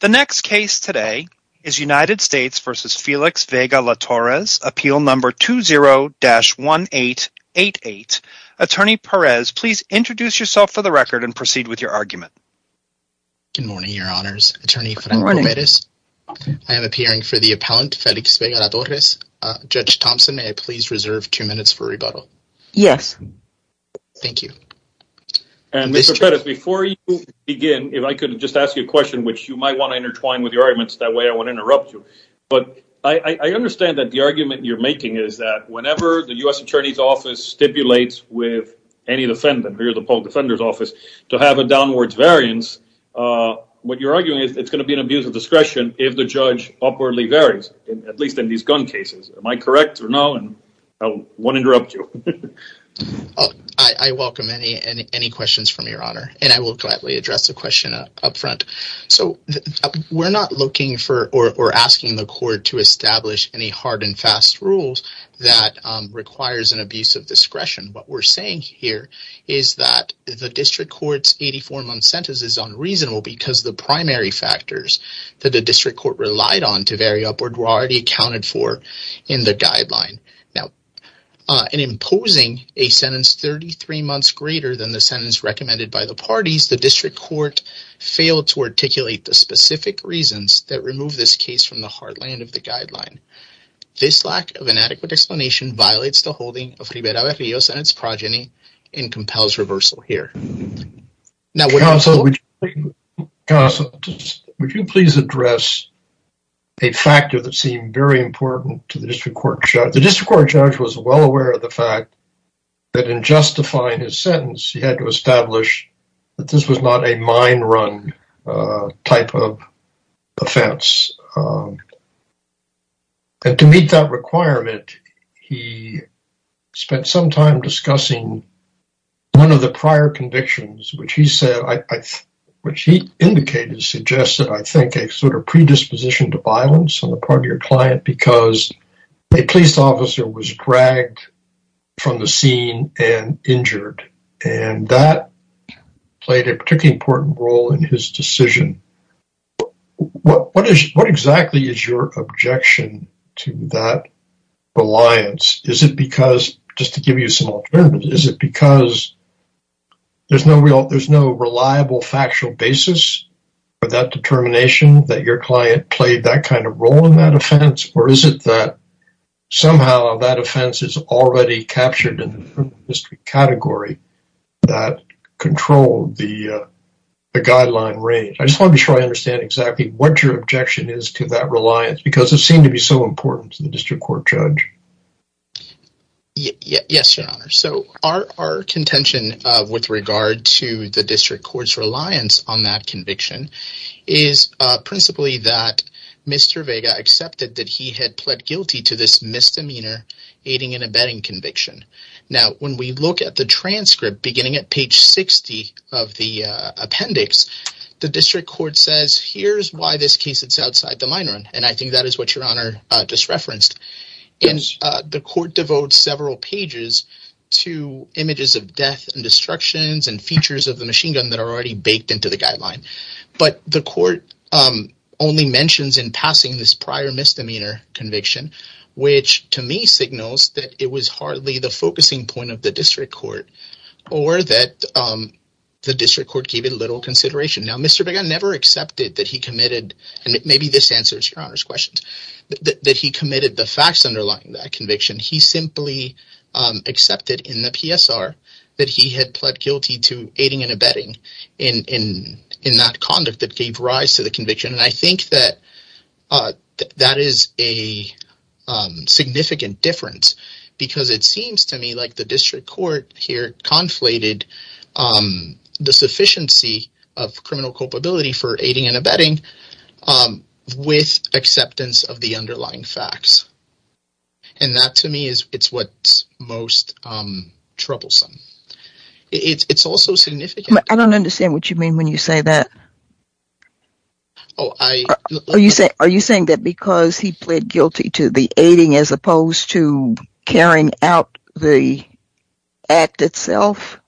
The next case today is United States v. Felix Vega-La Torres, Appeal No. 20-1888. Attorney Perez, please introduce yourself for the record and proceed with your argument. Good morning, Your Honors. Attorney Frenk-Romerez, I am appearing for the appellant, Felix Vega-La Torres. Judge Thompson, may I please reserve two minutes for rebuttal? Yes. Thank you. And Mr. Perez, before you begin, if I could just ask you a question, which you might want to intertwine with your arguments, that way I won't interrupt you. But I understand that the argument you're making is that whenever the U.S. Attorney's Office stipulates with any defendant, here the Polk Defender's Office, to have a downwards variance, what you're arguing is it's going to be an abuse of discretion if the judge upwardly varies, at least in these gun cases. Am I correct or no? And I won't interrupt you. I welcome any questions from Your Honor. And I will gladly address the question up front. So we're not looking for or asking the court to establish any hard and fast rules that requires an abuse of discretion. What we're saying here is that the District Court's 84-month sentence is unreasonable because the primary factors that the District Court relied on to vary upward were already recommended by the parties. The District Court failed to articulate the specific reasons that remove this case from the heartland of the guideline. This lack of an adequate explanation violates the holding of Ribera de Rios and its progeny and compels reversal here. Counsel, would you please address a factor that seemed very important to the District Court? The District Court judge was well aware of the fact that in justifying his sentence, he had to establish that this was not a mind-run type of offense. And to meet that requirement, he spent some time discussing one of the prior convictions, which he said, which he indicated, suggested, I think, a sort of predisposition to violence on the part of your client because a police officer was dragged from the scene and injured. And that played a particularly important role in his decision. What exactly is your objection to that reliance? Is it because, just to give you some alternatives, is it because there's no reliable factual basis for that determination that your client played that kind of role in that offense? Or is it that somehow that offense is already captured in the district category that controlled the guideline range? I just want to be sure I understand exactly what your objection is to that reliance because it seemed to be so important to the District Court judge. Yes, Your Honor. So our contention with regard to the District Court's Mr. Vega accepted that he had pled guilty to this misdemeanor aiding and abetting conviction. Now, when we look at the transcript beginning at page 60 of the appendix, the District Court says, here's why this case is outside the mind-run. And I think that is what Your Honor just referenced. And the court devotes several pages to images of death and destructions and features of the passing this prior misdemeanor conviction, which to me signals that it was hardly the focusing point of the District Court or that the District Court gave it little consideration. Now, Mr. Vega never accepted that he committed, and maybe this answers Your Honor's questions, that he committed the facts underlying that conviction. He simply accepted in the PSR that he had pled guilty to aiding and abetting in that conduct that gave rise to the conviction. And I think that that is a significant difference because it seems to me like the District Court here conflated the sufficiency of criminal culpability for aiding and abetting with acceptance of the underlying facts. And that to me is what's most troublesome. It's also I don't understand what you mean when you say that. Are you saying that because he pled guilty to the aiding as opposed to carrying out the act itself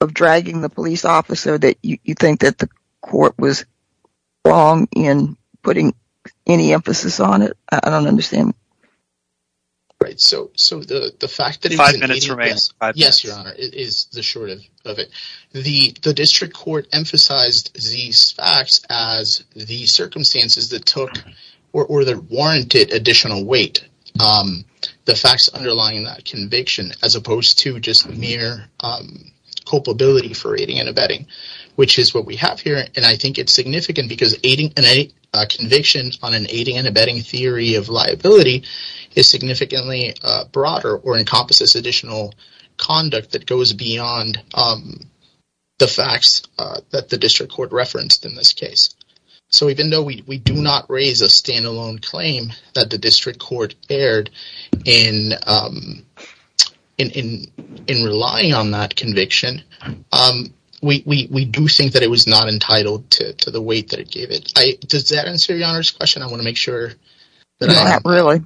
of dragging the police officer that you think that the court was wrong in putting any emphasis on it? I don't understand. All right, so the fact that- Five minutes remain. Yes, Your Honor, is the short of it. The District Court emphasized these facts as the circumstances that took or that warranted additional weight, the facts underlying that conviction, as opposed to just mere culpability for aiding and abetting, which is what we have here. And I think it's significant because an aiding and abetting conviction on an aiding and abetting theory of liability is significantly broader or encompasses additional conduct that goes beyond the facts that the District Court referenced in this case. So even though we do not raise a standalone claim that the District Court erred in relying on that conviction, we do think that it was not entitled to the weight that it gave it. Does that answer Your Honor? Not really.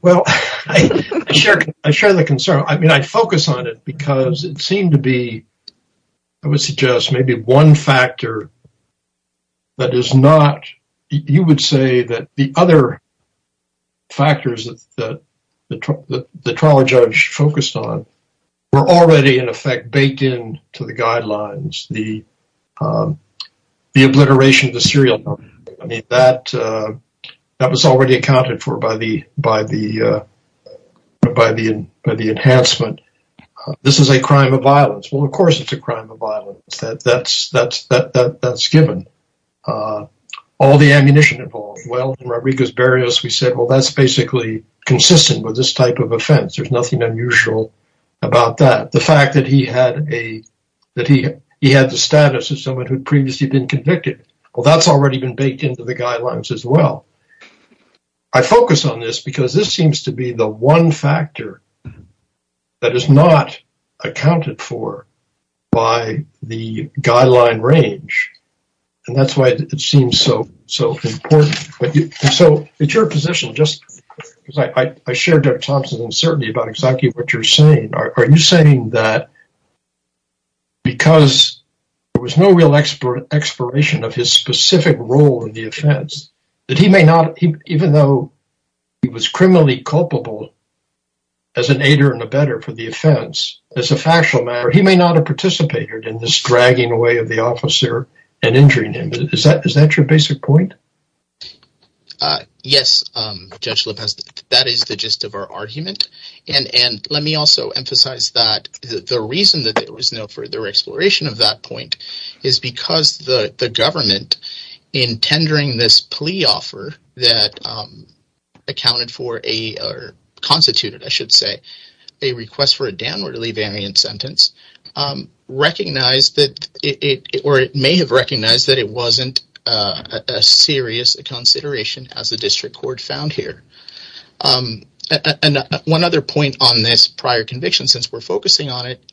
Well, I share the concern. I mean, I focus on it because it seemed to be, I would suggest, maybe one factor that is not, you would say that the other factors that the trial judge focused on were already, in effect, baked in to the guidelines, the obliteration of serial numbers. I mean, that was already accounted for by the enhancement. This is a crime of violence. Well, of course, it's a crime of violence. That's given. All the ammunition involved. Well, in Rodriguez-Barrios, we said, well, that's basically consistent with this type of offense. There's nothing unusual about that. The fact that he had the status of someone who'd been convicted, well, that's already been baked into the guidelines as well. I focus on this because this seems to be the one factor that is not accounted for by the guideline range. And that's why it seems so important. So it's your position, just because I shared Dr. Thompson's uncertainty about exactly what you're saying. Are you saying that because there was no real exploration of his specific role in the offense, that he may not, even though he was criminally culpable as an aider and abetter for the offense, as a factual matter, he may not have participated in this dragging away of the officer and injuring him? Is that your basic point? Yes, Judge Lepeste. That is the gist of our argument. And let me also emphasize that the reason that there was no further exploration of that point is because the government, in tendering this plea offer that constituted a request for a downwardly variant sentence, may have recognized that it wasn't as serious a consideration as the district court found here. And one other point on this prior conviction, since we're focusing on it,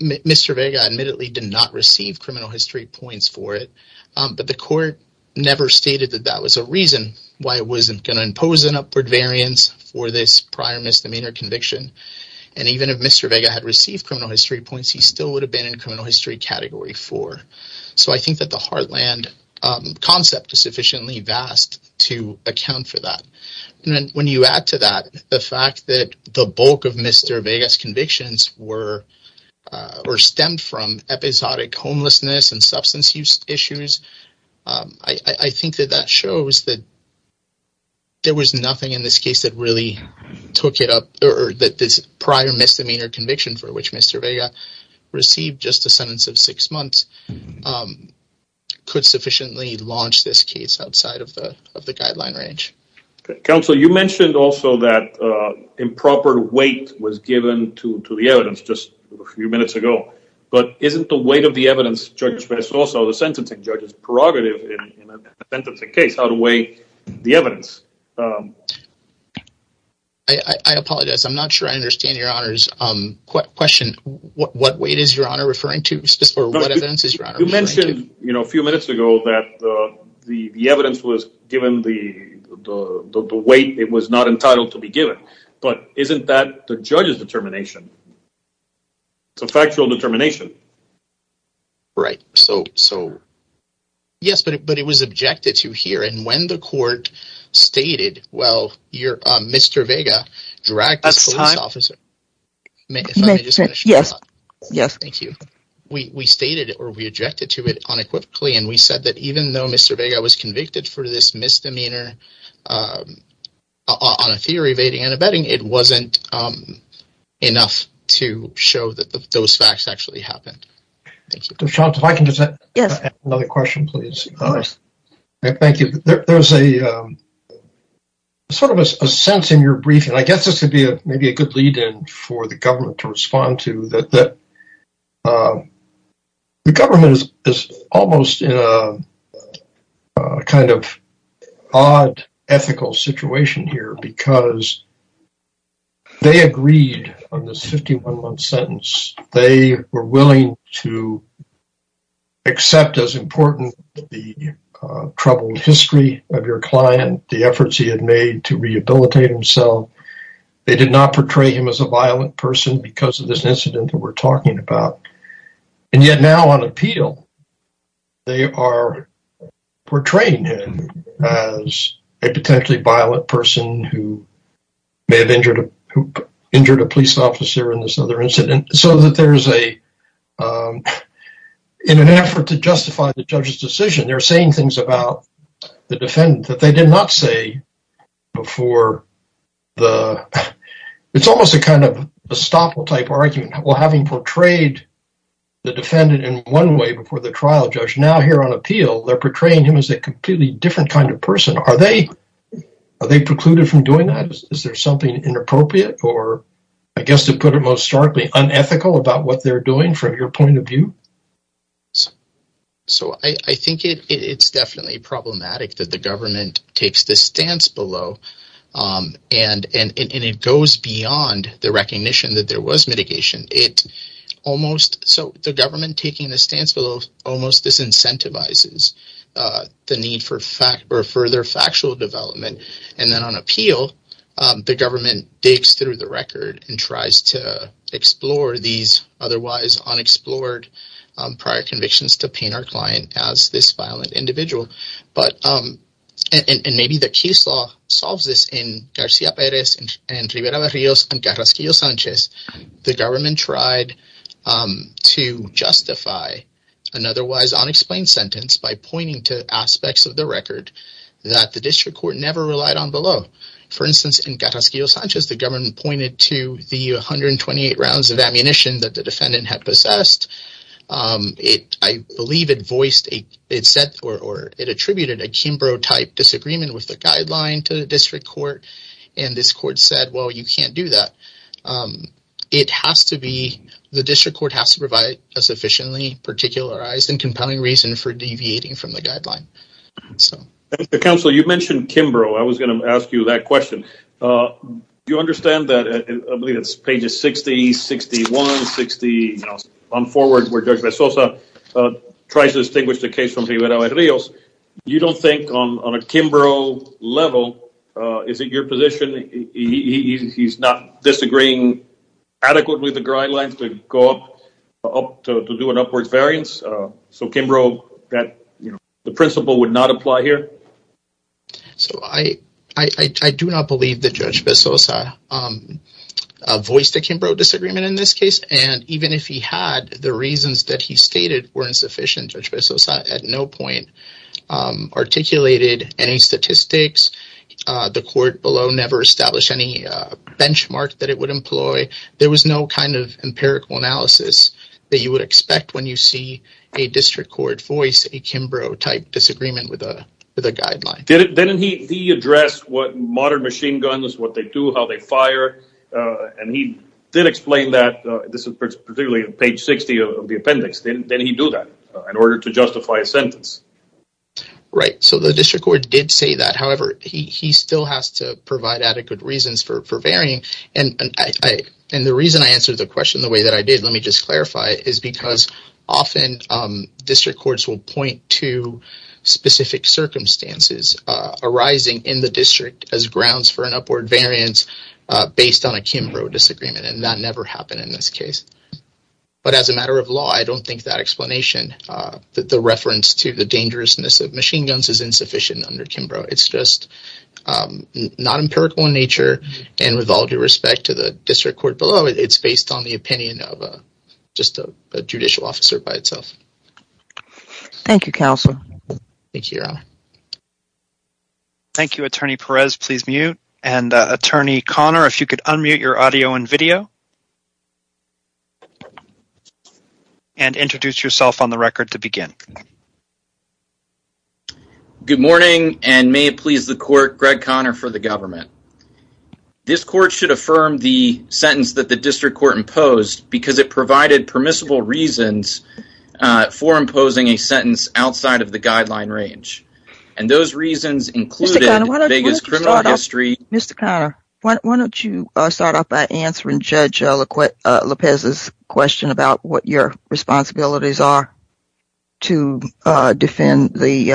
Mr. Vega admittedly did not receive criminal history points for it, but the court never stated that that was a reason why it wasn't going to impose an upward variance for this prior misdemeanor conviction. And even if Mr. Vega had received criminal history points, he still would have been in criminal history category four. So I think that the Heartland concept is sufficiently vast to account for that. And then when you add to that the fact that the bulk of Mr. Vega's convictions were stemmed from episodic homelessness and substance use issues, I think that that shows that there was nothing in this case that really took it up, or that this prior misdemeanor conviction for which Mr. Vega received just a sentence of six months could sufficiently launch this case outside of the guideline range. Okay. Counsel, you mentioned also that improper weight was given to the evidence just a few minutes ago, but isn't the weight of the evidence, Judge Spence, also the sentencing judge's prerogative in a sentencing case, how to weigh the evidence? I apologize. I'm not sure I understand Your Honor's question. What weight is Your Honor referring to, or what evidence is Your Honor referring to? You mentioned a few minutes ago that the evidence was given the weight it was not entitled to be given. But isn't that the judge's determination? It's a factual determination. Right. So yes, but it was objected to here. And when the court stated, well, Mr. Vega dragged this police officer... that even though Mr. Vega was convicted for this misdemeanor on a theory of aiding and abetting, it wasn't enough to show that those facts actually happened. Thank you. Sean, if I can just add another question, please. Thank you. There's a sort of a sense in your briefing, I guess this would be maybe a good lead-in for the government to respond to, that the government is almost in a kind of odd ethical situation here because they agreed on this 51-month sentence. They were willing to accept as important the troubled history of your client, the efforts he had made to rehabilitate himself. They did not portray him as a violent person because of this incident that we're talking about. And yet now on appeal, they are portraying him as a potentially violent person who may have injured a police officer in this other incident. So that there's a... in an effort to justify the judge's decision, they're saying things about the defendant that they did not say before the... it's almost a kind of estoppel type argument. Well, having portrayed the defendant in one way before the trial judge, now here on appeal, they're portraying him as a completely different kind of person. Are they precluded from doing that? Is there something inappropriate or, I guess to put it most starkly, unethical about what they're doing from your point of view? So I think it's definitely problematic that the government takes this stance below and it goes beyond the recognition that there was mitigation. So the government taking the stance below almost disincentivizes the need for further factual development. And then on appeal, the government digs through the record and tries to unexplored prior convictions to paint our client as this violent individual. And maybe the case law solves this in Garcia Perez and Rivera-Rios and Carrasquillo-Sanchez, the government tried to justify an otherwise unexplained sentence by pointing to aspects of the record that the district court never relied on below. For instance, in Carrasquillo-Sanchez, the government pointed to the 128 rounds of ammunition that the defendant had possessed. I believe it attributed a Kimbrough-type disagreement with the guideline to the district court. And this court said, well, you can't do that. The district court has to provide a sufficiently particularized and compelling reason for deviating from the guideline. So the council, you mentioned Kimbrough. I was going to ask you that question. Do you understand that? I believe it's pages 60, 61, 60, you know, on forward where Judge tries to distinguish the case from Rivera-Rios. You don't think on a Kimbrough level, is it your position? He's not disagreeing adequately with the guidelines to go up, to do an upwards variance. So Kimbrough, that, you know, the principle would not apply here. So I do not believe that Judge Besosa voiced a Kimbrough disagreement in this case. And even if he had, the reasons that he stated were insufficient, Judge Besosa at no point articulated any statistics. The court below never established any benchmark that it would employ. There was no kind of empirical analysis that you would expect when you see a district court voice a Kimbrough type disagreement with a guideline. Didn't he address what modern machine guns, what they do, how they fire. And he did explain that, this is particularly page 60 of the appendix. Didn't he do that in order to justify a sentence? Right. So the district court did say however, he still has to provide adequate reasons for varying. And the reason I answered the question the way that I did, let me just clarify, is because often district courts will point to specific circumstances arising in the district as grounds for an upward variance based on a Kimbrough disagreement. And that never happened in this case. But as a matter of law, I don't think that explanation, that the reference to the Kimbrough disagreement, it's just not empirical in nature. And with all due respect to the district court below, it's based on the opinion of just a judicial officer by itself. Thank you, counsel. Thank you, Your Honor. Thank you, Attorney Perez. Please mute. And Attorney Connor, if you could unmute your audio and video. And introduce yourself on the record to begin. Good morning, and may it please the court, Greg Connor for the government. This court should affirm the sentence that the district court imposed because it provided permissible reasons for imposing a sentence outside of the guideline range. And those reasons included Vegas criminal history. Mr. Connor, why don't you start off by answering Judge Lopez's question about what your responsibilities are to defend the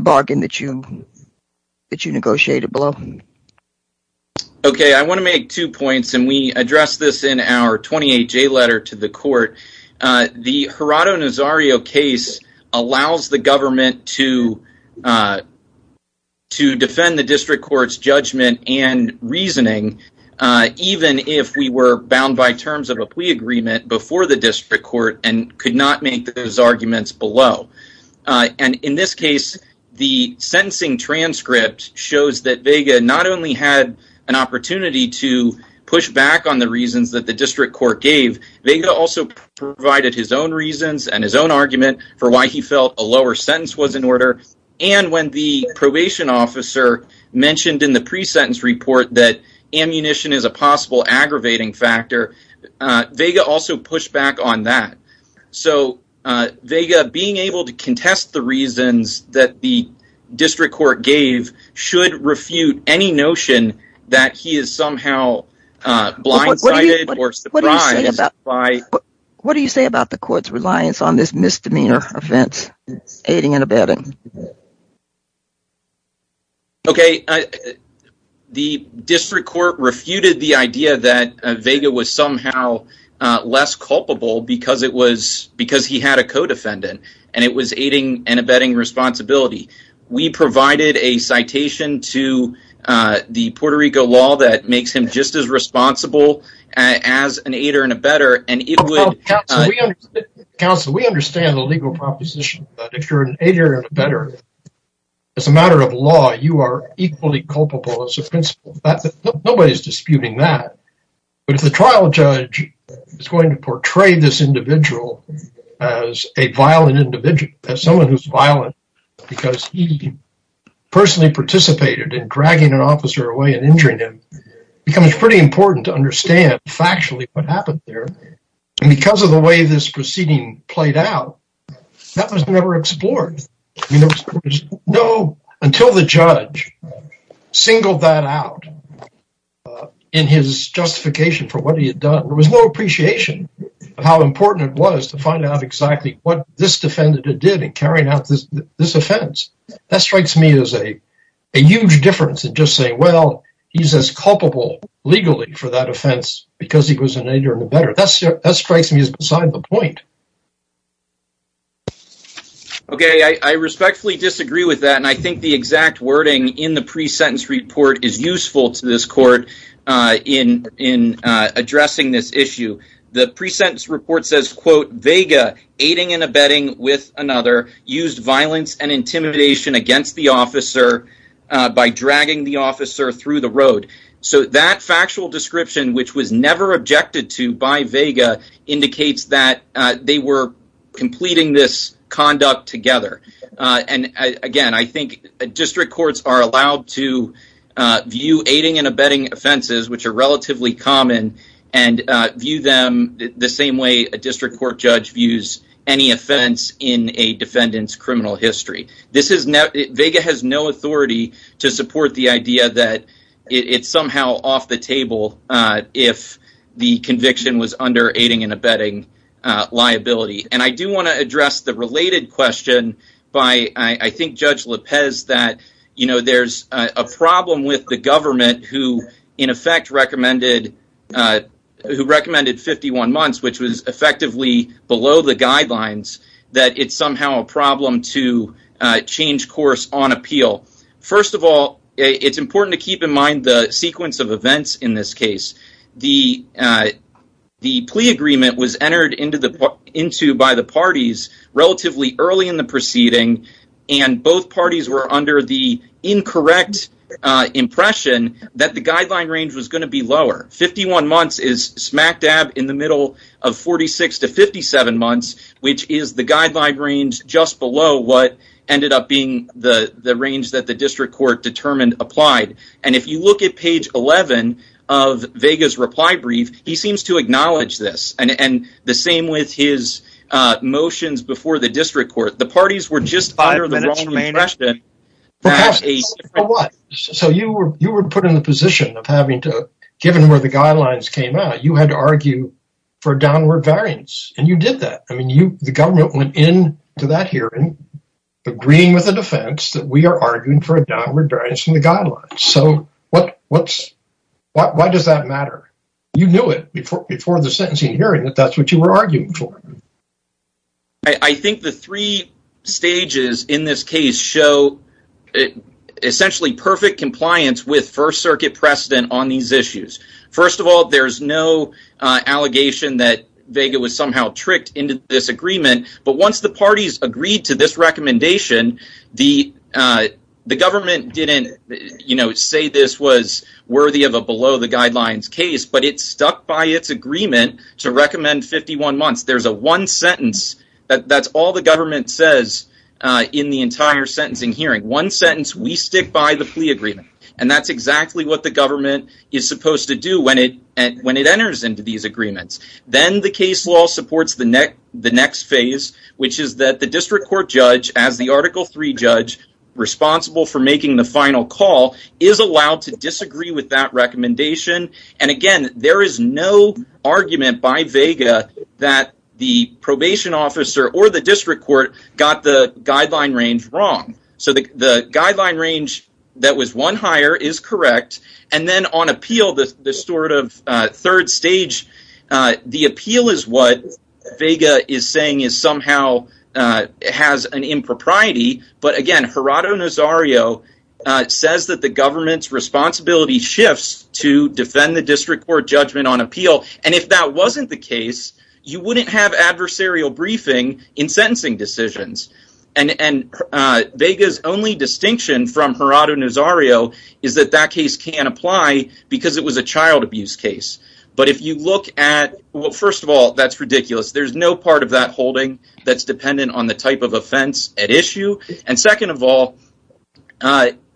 bargain that you negotiated below. Okay, I want to make two points, and we address this in our 28J letter to the court. The Gerardo Nazario case allows the government to defend the district court's judgment and reasoning, even if we were bound by terms of a plea agreement before the district court and could not make those arguments below. And in this case, the sentencing transcript shows that Vega not only had an opportunity to push back on the reasons that the district court gave, Vega also provided his own reasons and his own argument for why he felt a lower sentence was in order. And when the probation officer mentioned in the pre-sentence report that ammunition is a possible aggravating factor, Vega also pushed back on that. So Vega, being able to contest the reasons that the district court gave should refute any notion that he is somehow blindsided or surprised. What do you say about the court's reliance on this misdemeanor offense, aiding and abetting? Okay, the district court refuted the idea that Vega was somehow less culpable because he had a co-defendant, and it was aiding and abetting responsibility. We provided a citation to the Puerto Rico law that makes him just as responsible as an aider and abetter. Counsel, we understand the legal proposition that if you're an aider and abetter, as a matter of law, you are equally culpable as a principal. Nobody's disputing that. But if the trial judge is going to portray this individual as a violent individual, as someone who's violent because he personally participated in dragging an officer away and injuring him, it becomes pretty important to understand factually what happened there. And because of the way this proceeding played out, that was never explored. Until the judge singled that out in his justification for what he had done, there was no appreciation of how important it was to find out exactly what this defendant did in carrying out this offense. That strikes me as a huge difference to just say, well, he's as culpable legally for that offense because he was an aider and abetter. That strikes me as beside the point. Okay, I respectfully disagree with that, and I think the exact wording in the pre-sentence report says, quote, Vega, aiding and abetting with another, used violence and intimidation against the officer by dragging the officer through the road. So that factual description, which was never objected to by Vega, indicates that they were completing this conduct together. And again, I think district courts are allowed to view aiding and abetting offenses, which are relatively common, and view them the same way a district court judge views any offense in a defendant's criminal history. Vega has no authority to support the idea that it's somehow off the table if the conviction was under aiding and abetting liability. And I do want to address the related question by, I think, Judge Lopez, that there's a problem with the government who, in effect, recommended 51 months, which was effectively below the guidelines, that it's somehow a problem to change course on appeal. First of all, it's important to keep in mind the sequence of events in this case. The plea agreement was entered into by the parties relatively early in the proceeding, and both parties were under the incorrect impression that the guideline range was going to be lower. 51 months is smack dab in the middle of 46 to 57 months, which is the guideline range just below what ended up being the range that the district court determined applied. And if you look at page 11 of Vega's reply brief, he seems to acknowledge this, and the same with his motions before the district court. The parties were just under the same impression. So you were put in the position of having to, given where the guidelines came out, you had to argue for downward variance, and you did that. I mean, the government went into that hearing agreeing with the defense that we are arguing for a downward variance in the guidelines. So why does that matter? You knew it before the sentencing hearing that that's what you were going to argue for. The parties in this case show essentially perfect compliance with First Circuit precedent on these issues. First of all, there's no allegation that Vega was somehow tricked into this agreement, but once the parties agreed to this recommendation, the government didn't say this was worthy of a below-the-guidelines case, but it stuck by its agreement to recommend 51 months. There's a one sentence that's all the government says in the entire sentencing hearing. One sentence, we stick by the plea agreement, and that's exactly what the government is supposed to do when it enters into these agreements. Then the case law supports the next phase, which is that the district court judge, as the Article III judge responsible for making the final call, is allowed to disagree with that recommendation, and again, there is no argument by Vega that the probation officer or the district court got the guideline range wrong. So the guideline range that was one higher is correct, and then on appeal, the sort of third stage, the appeal is what Vega is saying somehow has an impropriety, but again, Gerardo Nazario says that the government's responsibility shifts to defend the district court judgment on appeal, and if that wasn't the case, you wouldn't have adversarial briefing in sentencing decisions, and Vega's only distinction from Gerardo Nazario is that that case can't apply because it was a child abuse case, but if you look at, well, first of all, that's ridiculous. There's no part of that holding that's dependent on the type of offense at issue, and second of all,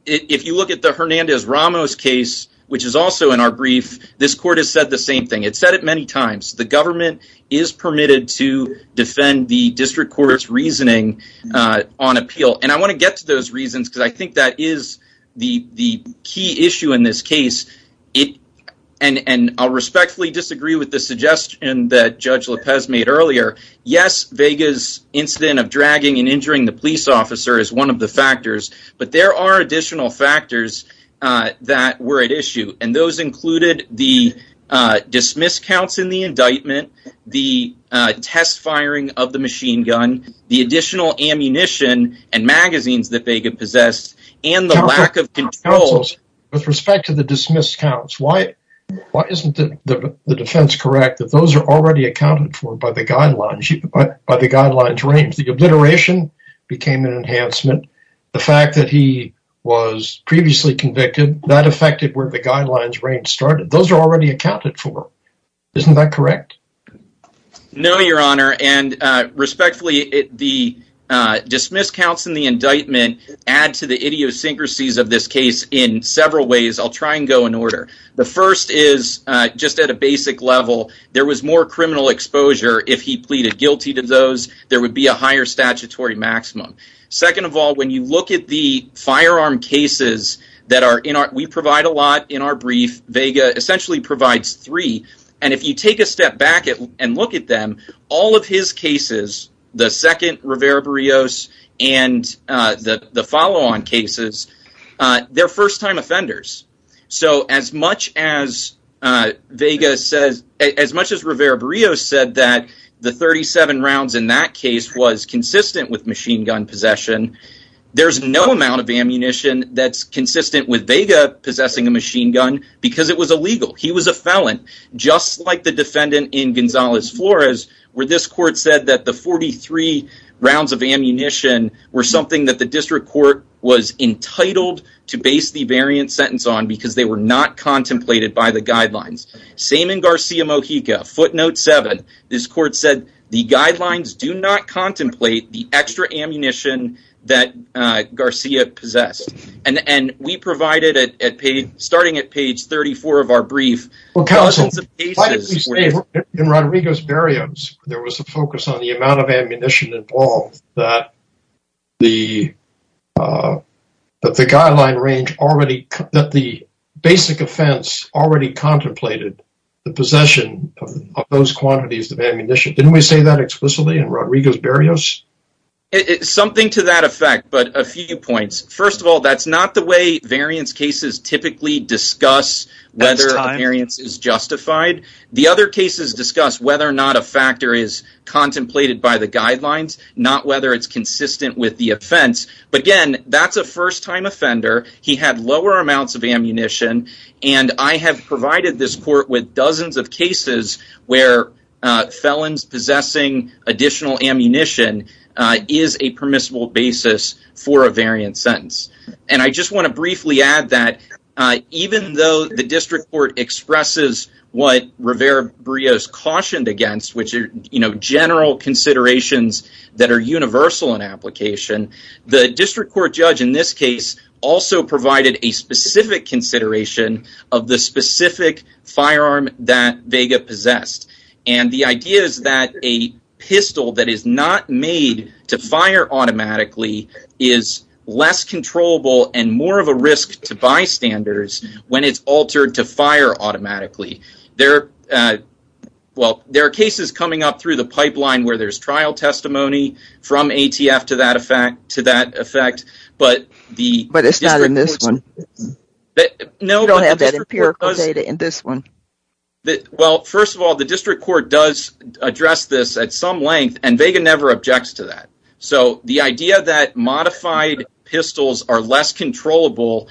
if you look at the Hernandez-Ramos case, which is also in our brief, this court has said the same thing. It's said it many times. The government is permitted to defend the district court's reasoning on appeal, and I want to get to those reasons because I think that is the key issue in this case, and I'll respectfully disagree with the suggestion that Judge Lopez made earlier. Yes, Vega's incident of dragging and injuring the police officer is one of the factors, but there are additional factors that were at issue, and those included the dismiss counts in the indictment, the test firing of the machine gun, the additional ammunition and magazines that Vega possessed, and the lack of controls. With respect to the dismiss counts, why isn't the defense correct that those are already accounted for by the guidelines range? The obliteration became an enhancement. The fact that he was previously convicted, that affected where the guidelines range started. Those are already accounted for. Isn't that correct? No, Your Honor, and respectfully, the dismiss counts in the indictment add to the idiosyncrasies of this case in several ways. I'll try and go in order. The first is, just at a basic level, there was more criminal exposure if he pleaded guilty to those. There would be a higher statutory maximum. Second of all, when you look at the firearm cases that we provide a lot in our brief, Vega essentially provides three, and if you take step back and look at them, all of his cases, the second Rivera-Burrios and the follow-on cases, they're first-time offenders. So as much as Rivera-Burrios said that the 37 rounds in that case was consistent with machine gun possession, there's no amount of ammunition that's consistent with Vega possessing a machine gun because it was illegal. He was a felon, just like the defendant in Gonzalez-Flores, where this court said that the 43 rounds of ammunition were something that the district court was entitled to base the variant sentence on because they were not contemplated by the guidelines. Same in Garcia-Mojica, footnote seven. This court said the starting at page 34 of our brief, there was a focus on the amount of ammunition involved, that the basic offense already contemplated the possession of those quantities of ammunition. Didn't we say that explicitly in Rodriguez-Burrios? Something to that effect, but a few points. First of all, that's not the way variance cases typically discuss whether a variance is justified. The other cases discuss whether or not a factor is contemplated by the guidelines, not whether it's consistent with the offense. But again, that's a first-time offender. He had lower amounts of ammunition, and I have provided this court with dozens of cases where felons possessing additional ammunition is a permissible basis for a variant sentence. I just want to briefly add that even though the district court expresses what Rivera-Burrios cautioned against, which are general considerations that are universal in application, the district court judge in this case also provided a specific consideration of the specific firearm that Vega possessed. And the idea is that a pistol that is not made to fire automatically is less controllable and more of a risk to bystanders when it's altered to fire automatically. There are cases coming up through the pipeline where there's trial testimony from ATF to that effect, but the district court does address this at some length, and Vega never objects to that. So the idea that modified pistols are less controllable,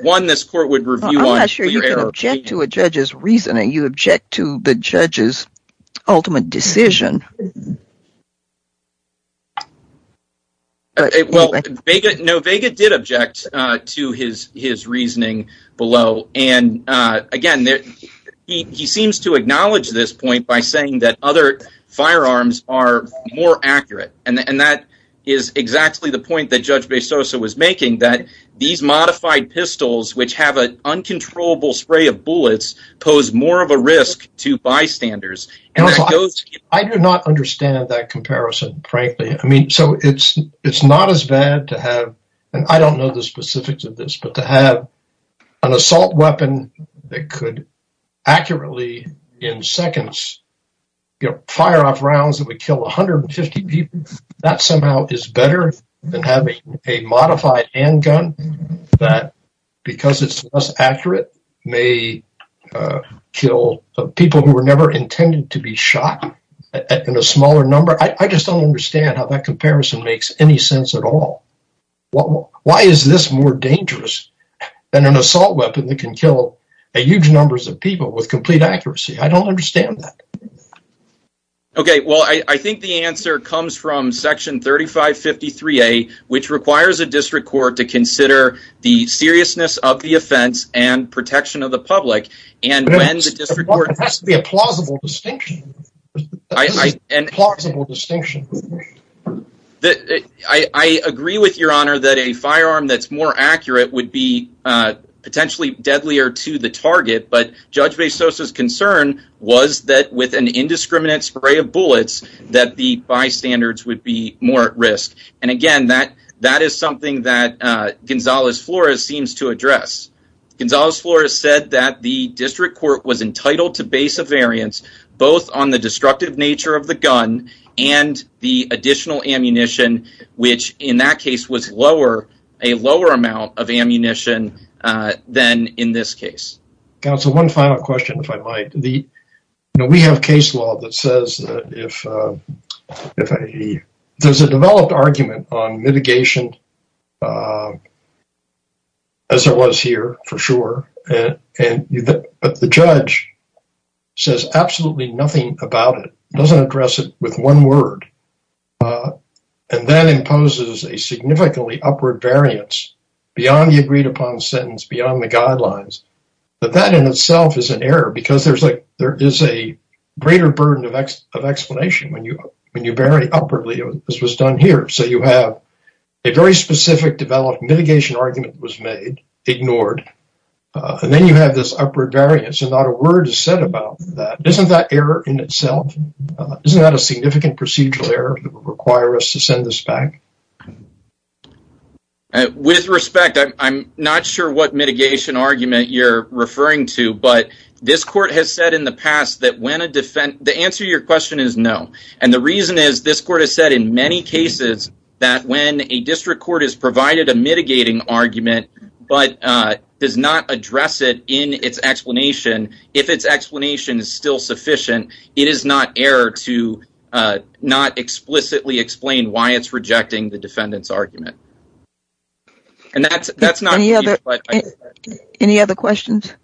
one, this court would review on... I'm not sure you can object to a judge's reasoning. You object to the judge's ultimate decision. No, Vega did object to his reasoning below, and again, he seems to acknowledge this point by saying that other firearms are more accurate, and that is exactly the point that Judge Bezosa was making, that these modified pistols, which have an uncontrollable spray of bullets, pose more of a risk to bystanders. I do not understand that comparison, frankly. I mean, so it's not as bad to have, and I don't know the specifics of this, but to have an assault weapon that could accurately, in seconds, fire off rounds that would kill 150 people. That somehow is better than having a modified handgun that, because it's less accurate, may kill people who were never intended to be shot in a smaller number. I just don't understand how that comparison makes any sense at all. Why is this more dangerous than an assault weapon that can kill huge numbers of people with complete accuracy? I don't understand that. Okay, well, I think the answer comes from Section 3553A, which requires a district court to consider the seriousness of the offense and protection of the public, and when the district court... It has to be a plausible distinction. I agree with your honor that a firearm that's more accurate would be potentially deadlier to the target, but Judge Bezosa's concern was that with an indiscriminate spray of bullets, that the bystanders would be more at risk, and again, that is something that Gonzalez-Flores seems to address. Gonzalez-Flores said that the district court was entitled to base a variance both on the destructive nature of the gun and the additional ammunition, which in that case was a lower amount of ammunition than in this case. Counsel, one final question, if I might. Now, we have case law that says that if... There's a developed argument on mitigation as there was here, for sure, but the judge says absolutely nothing about it, doesn't address it with one word, and that imposes a significantly upward variance beyond the agreed upon sentence, beyond the guidelines, that that in itself is an error, because there is a greater burden of explanation when you vary upwardly, as was done here. So, you have a very specific developed mitigation argument was made, ignored, and then you have this upward variance, and not a word is said about that. Isn't that error in itself? Isn't that a significant procedural error that would require us to send this back? With respect, I'm not sure what mitigation argument you're referring to, but this court has said in the past that when a defense... The answer to your question is no, and the reason is this court has said in many cases that when a district court is provided a mitigating argument, but does not address it in its explanation, if its explanation is still sufficient, it is not error to not explicitly explain why it's rejecting the defendant's argument, and that's not... Any other questions?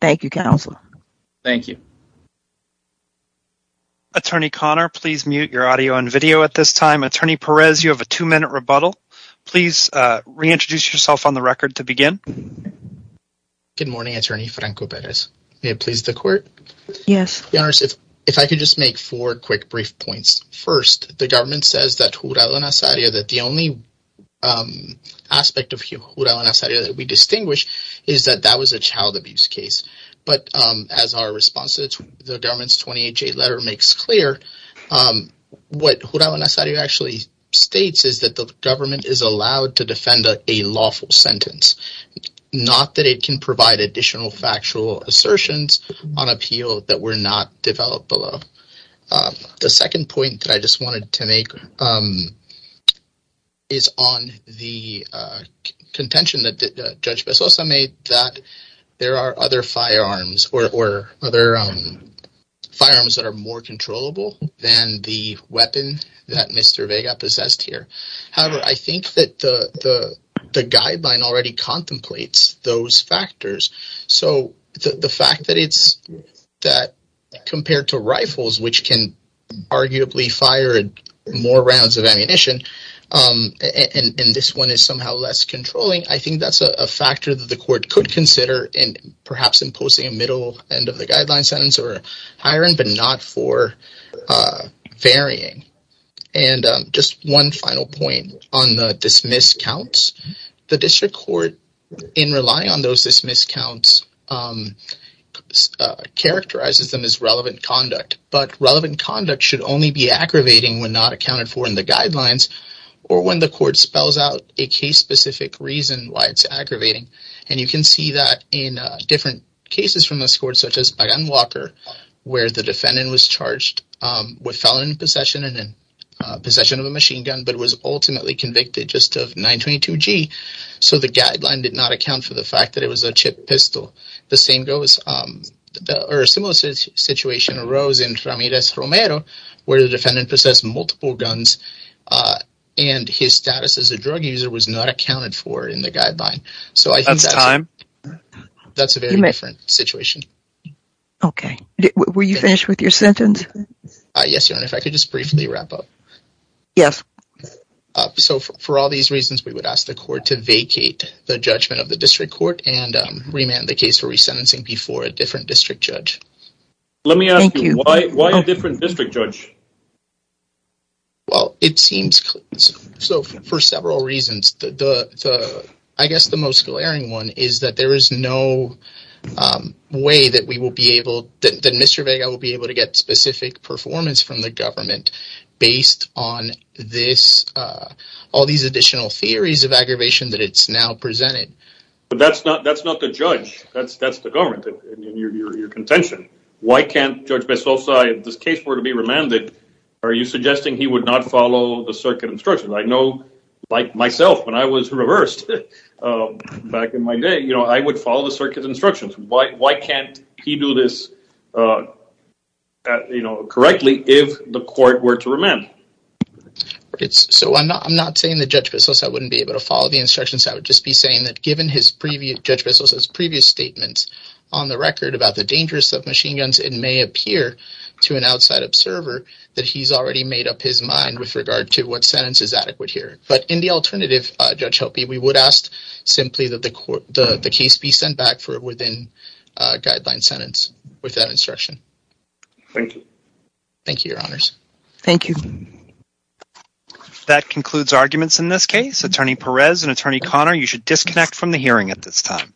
Thank you, counsel. Thank you. Attorney Conner, please mute your audio and video at this time. Attorney Perez, you have a two-minute rebuttal. Please reintroduce yourself on the record to begin. Good morning, Attorney Franco Perez. May it please the court? Yes. Your Honor, if I could just make four quick brief points. First, the government says that Jurado Nazario, that the only aspect of Jurado Nazario that we distinguish is that that was a child abuse case, but as our response to the government's 28-J letter makes clear, what Jurado Nazario actually states is that the government is allowed to defend a lawful sentence, not that it can provide additional factual assertions on appeal that were not developed below. The second point that I just wanted to make is on the contention that Judge Bezos made that there are other firearms or other firearms that are more controllable than the weapon that Mr. Vega possessed here. However, I think that the guideline already contemplates those factors, so the fact that it's... That compared to rifles, which can arguably fire more rounds of ammunition, and this one is somehow less controlling, I think that's a factor that the court could consider in perhaps imposing a middle end of the guideline sentence or higher end, but not for varying. And just one final point on the dismiss counts. The district court, in relying on those dismiss counts, characterizes them as relevant conduct, but relevant conduct should only be aggravating when not accounted for in the guidelines or when the court spells out a case-specific reason why it's aggravating. And you can see that in different cases from this court, such as Pagan-Walker, where the defendant was charged with felon possession and possession of a machine gun, but was ultimately convicted just of 922G, so the guideline did not account for the fact that it was a chipped pistol. The same goes... Or a similar situation arose in Ramirez-Romero, where the defendant possessed multiple guns and his status as a drug user was not accounted for in the guideline. That's a very different situation. Okay, were you finished with your sentence? Yes, Your Honor, if I could just briefly wrap up. Yes. So for all these reasons, we would ask the court to vacate the judgment of the district court and remand the case for resentencing before a different district judge. Let me ask you, why a different district judge? Well, it seems... So for several reasons, I guess the most glaring one is that there is no way that we will be able, that Mr. Vega will be able to get specific performance from the government based on all these additional theories of aggravation that it's now presented. But that's not the judge, that's the government in your contention. Why can't Judge Bessosa, if this case were to be remanded, are you suggesting he would not follow the circuit instructions? I know, like myself, when I was reversed back in my day, you know, I would follow the circuit instructions. Why can't he do this correctly if the court were to remand? So I'm not saying that Judge Bessosa wouldn't be able to follow the instructions, I would just be saying that given Judge Bessosa's previous statements on the record about the dangers of machine guns, it may appear to an outside observer that he's already made up his mind with regard to what sentence is adequate here. But in the alternative, Judge Helpe, we would ask simply that the case be sent back for a within-guideline sentence with that instruction. Thank you. Thank you, Your Honors. Thank you. That concludes arguments in this case. Attorney Perez and Attorney Connor, you should disconnect from the hearing at this time.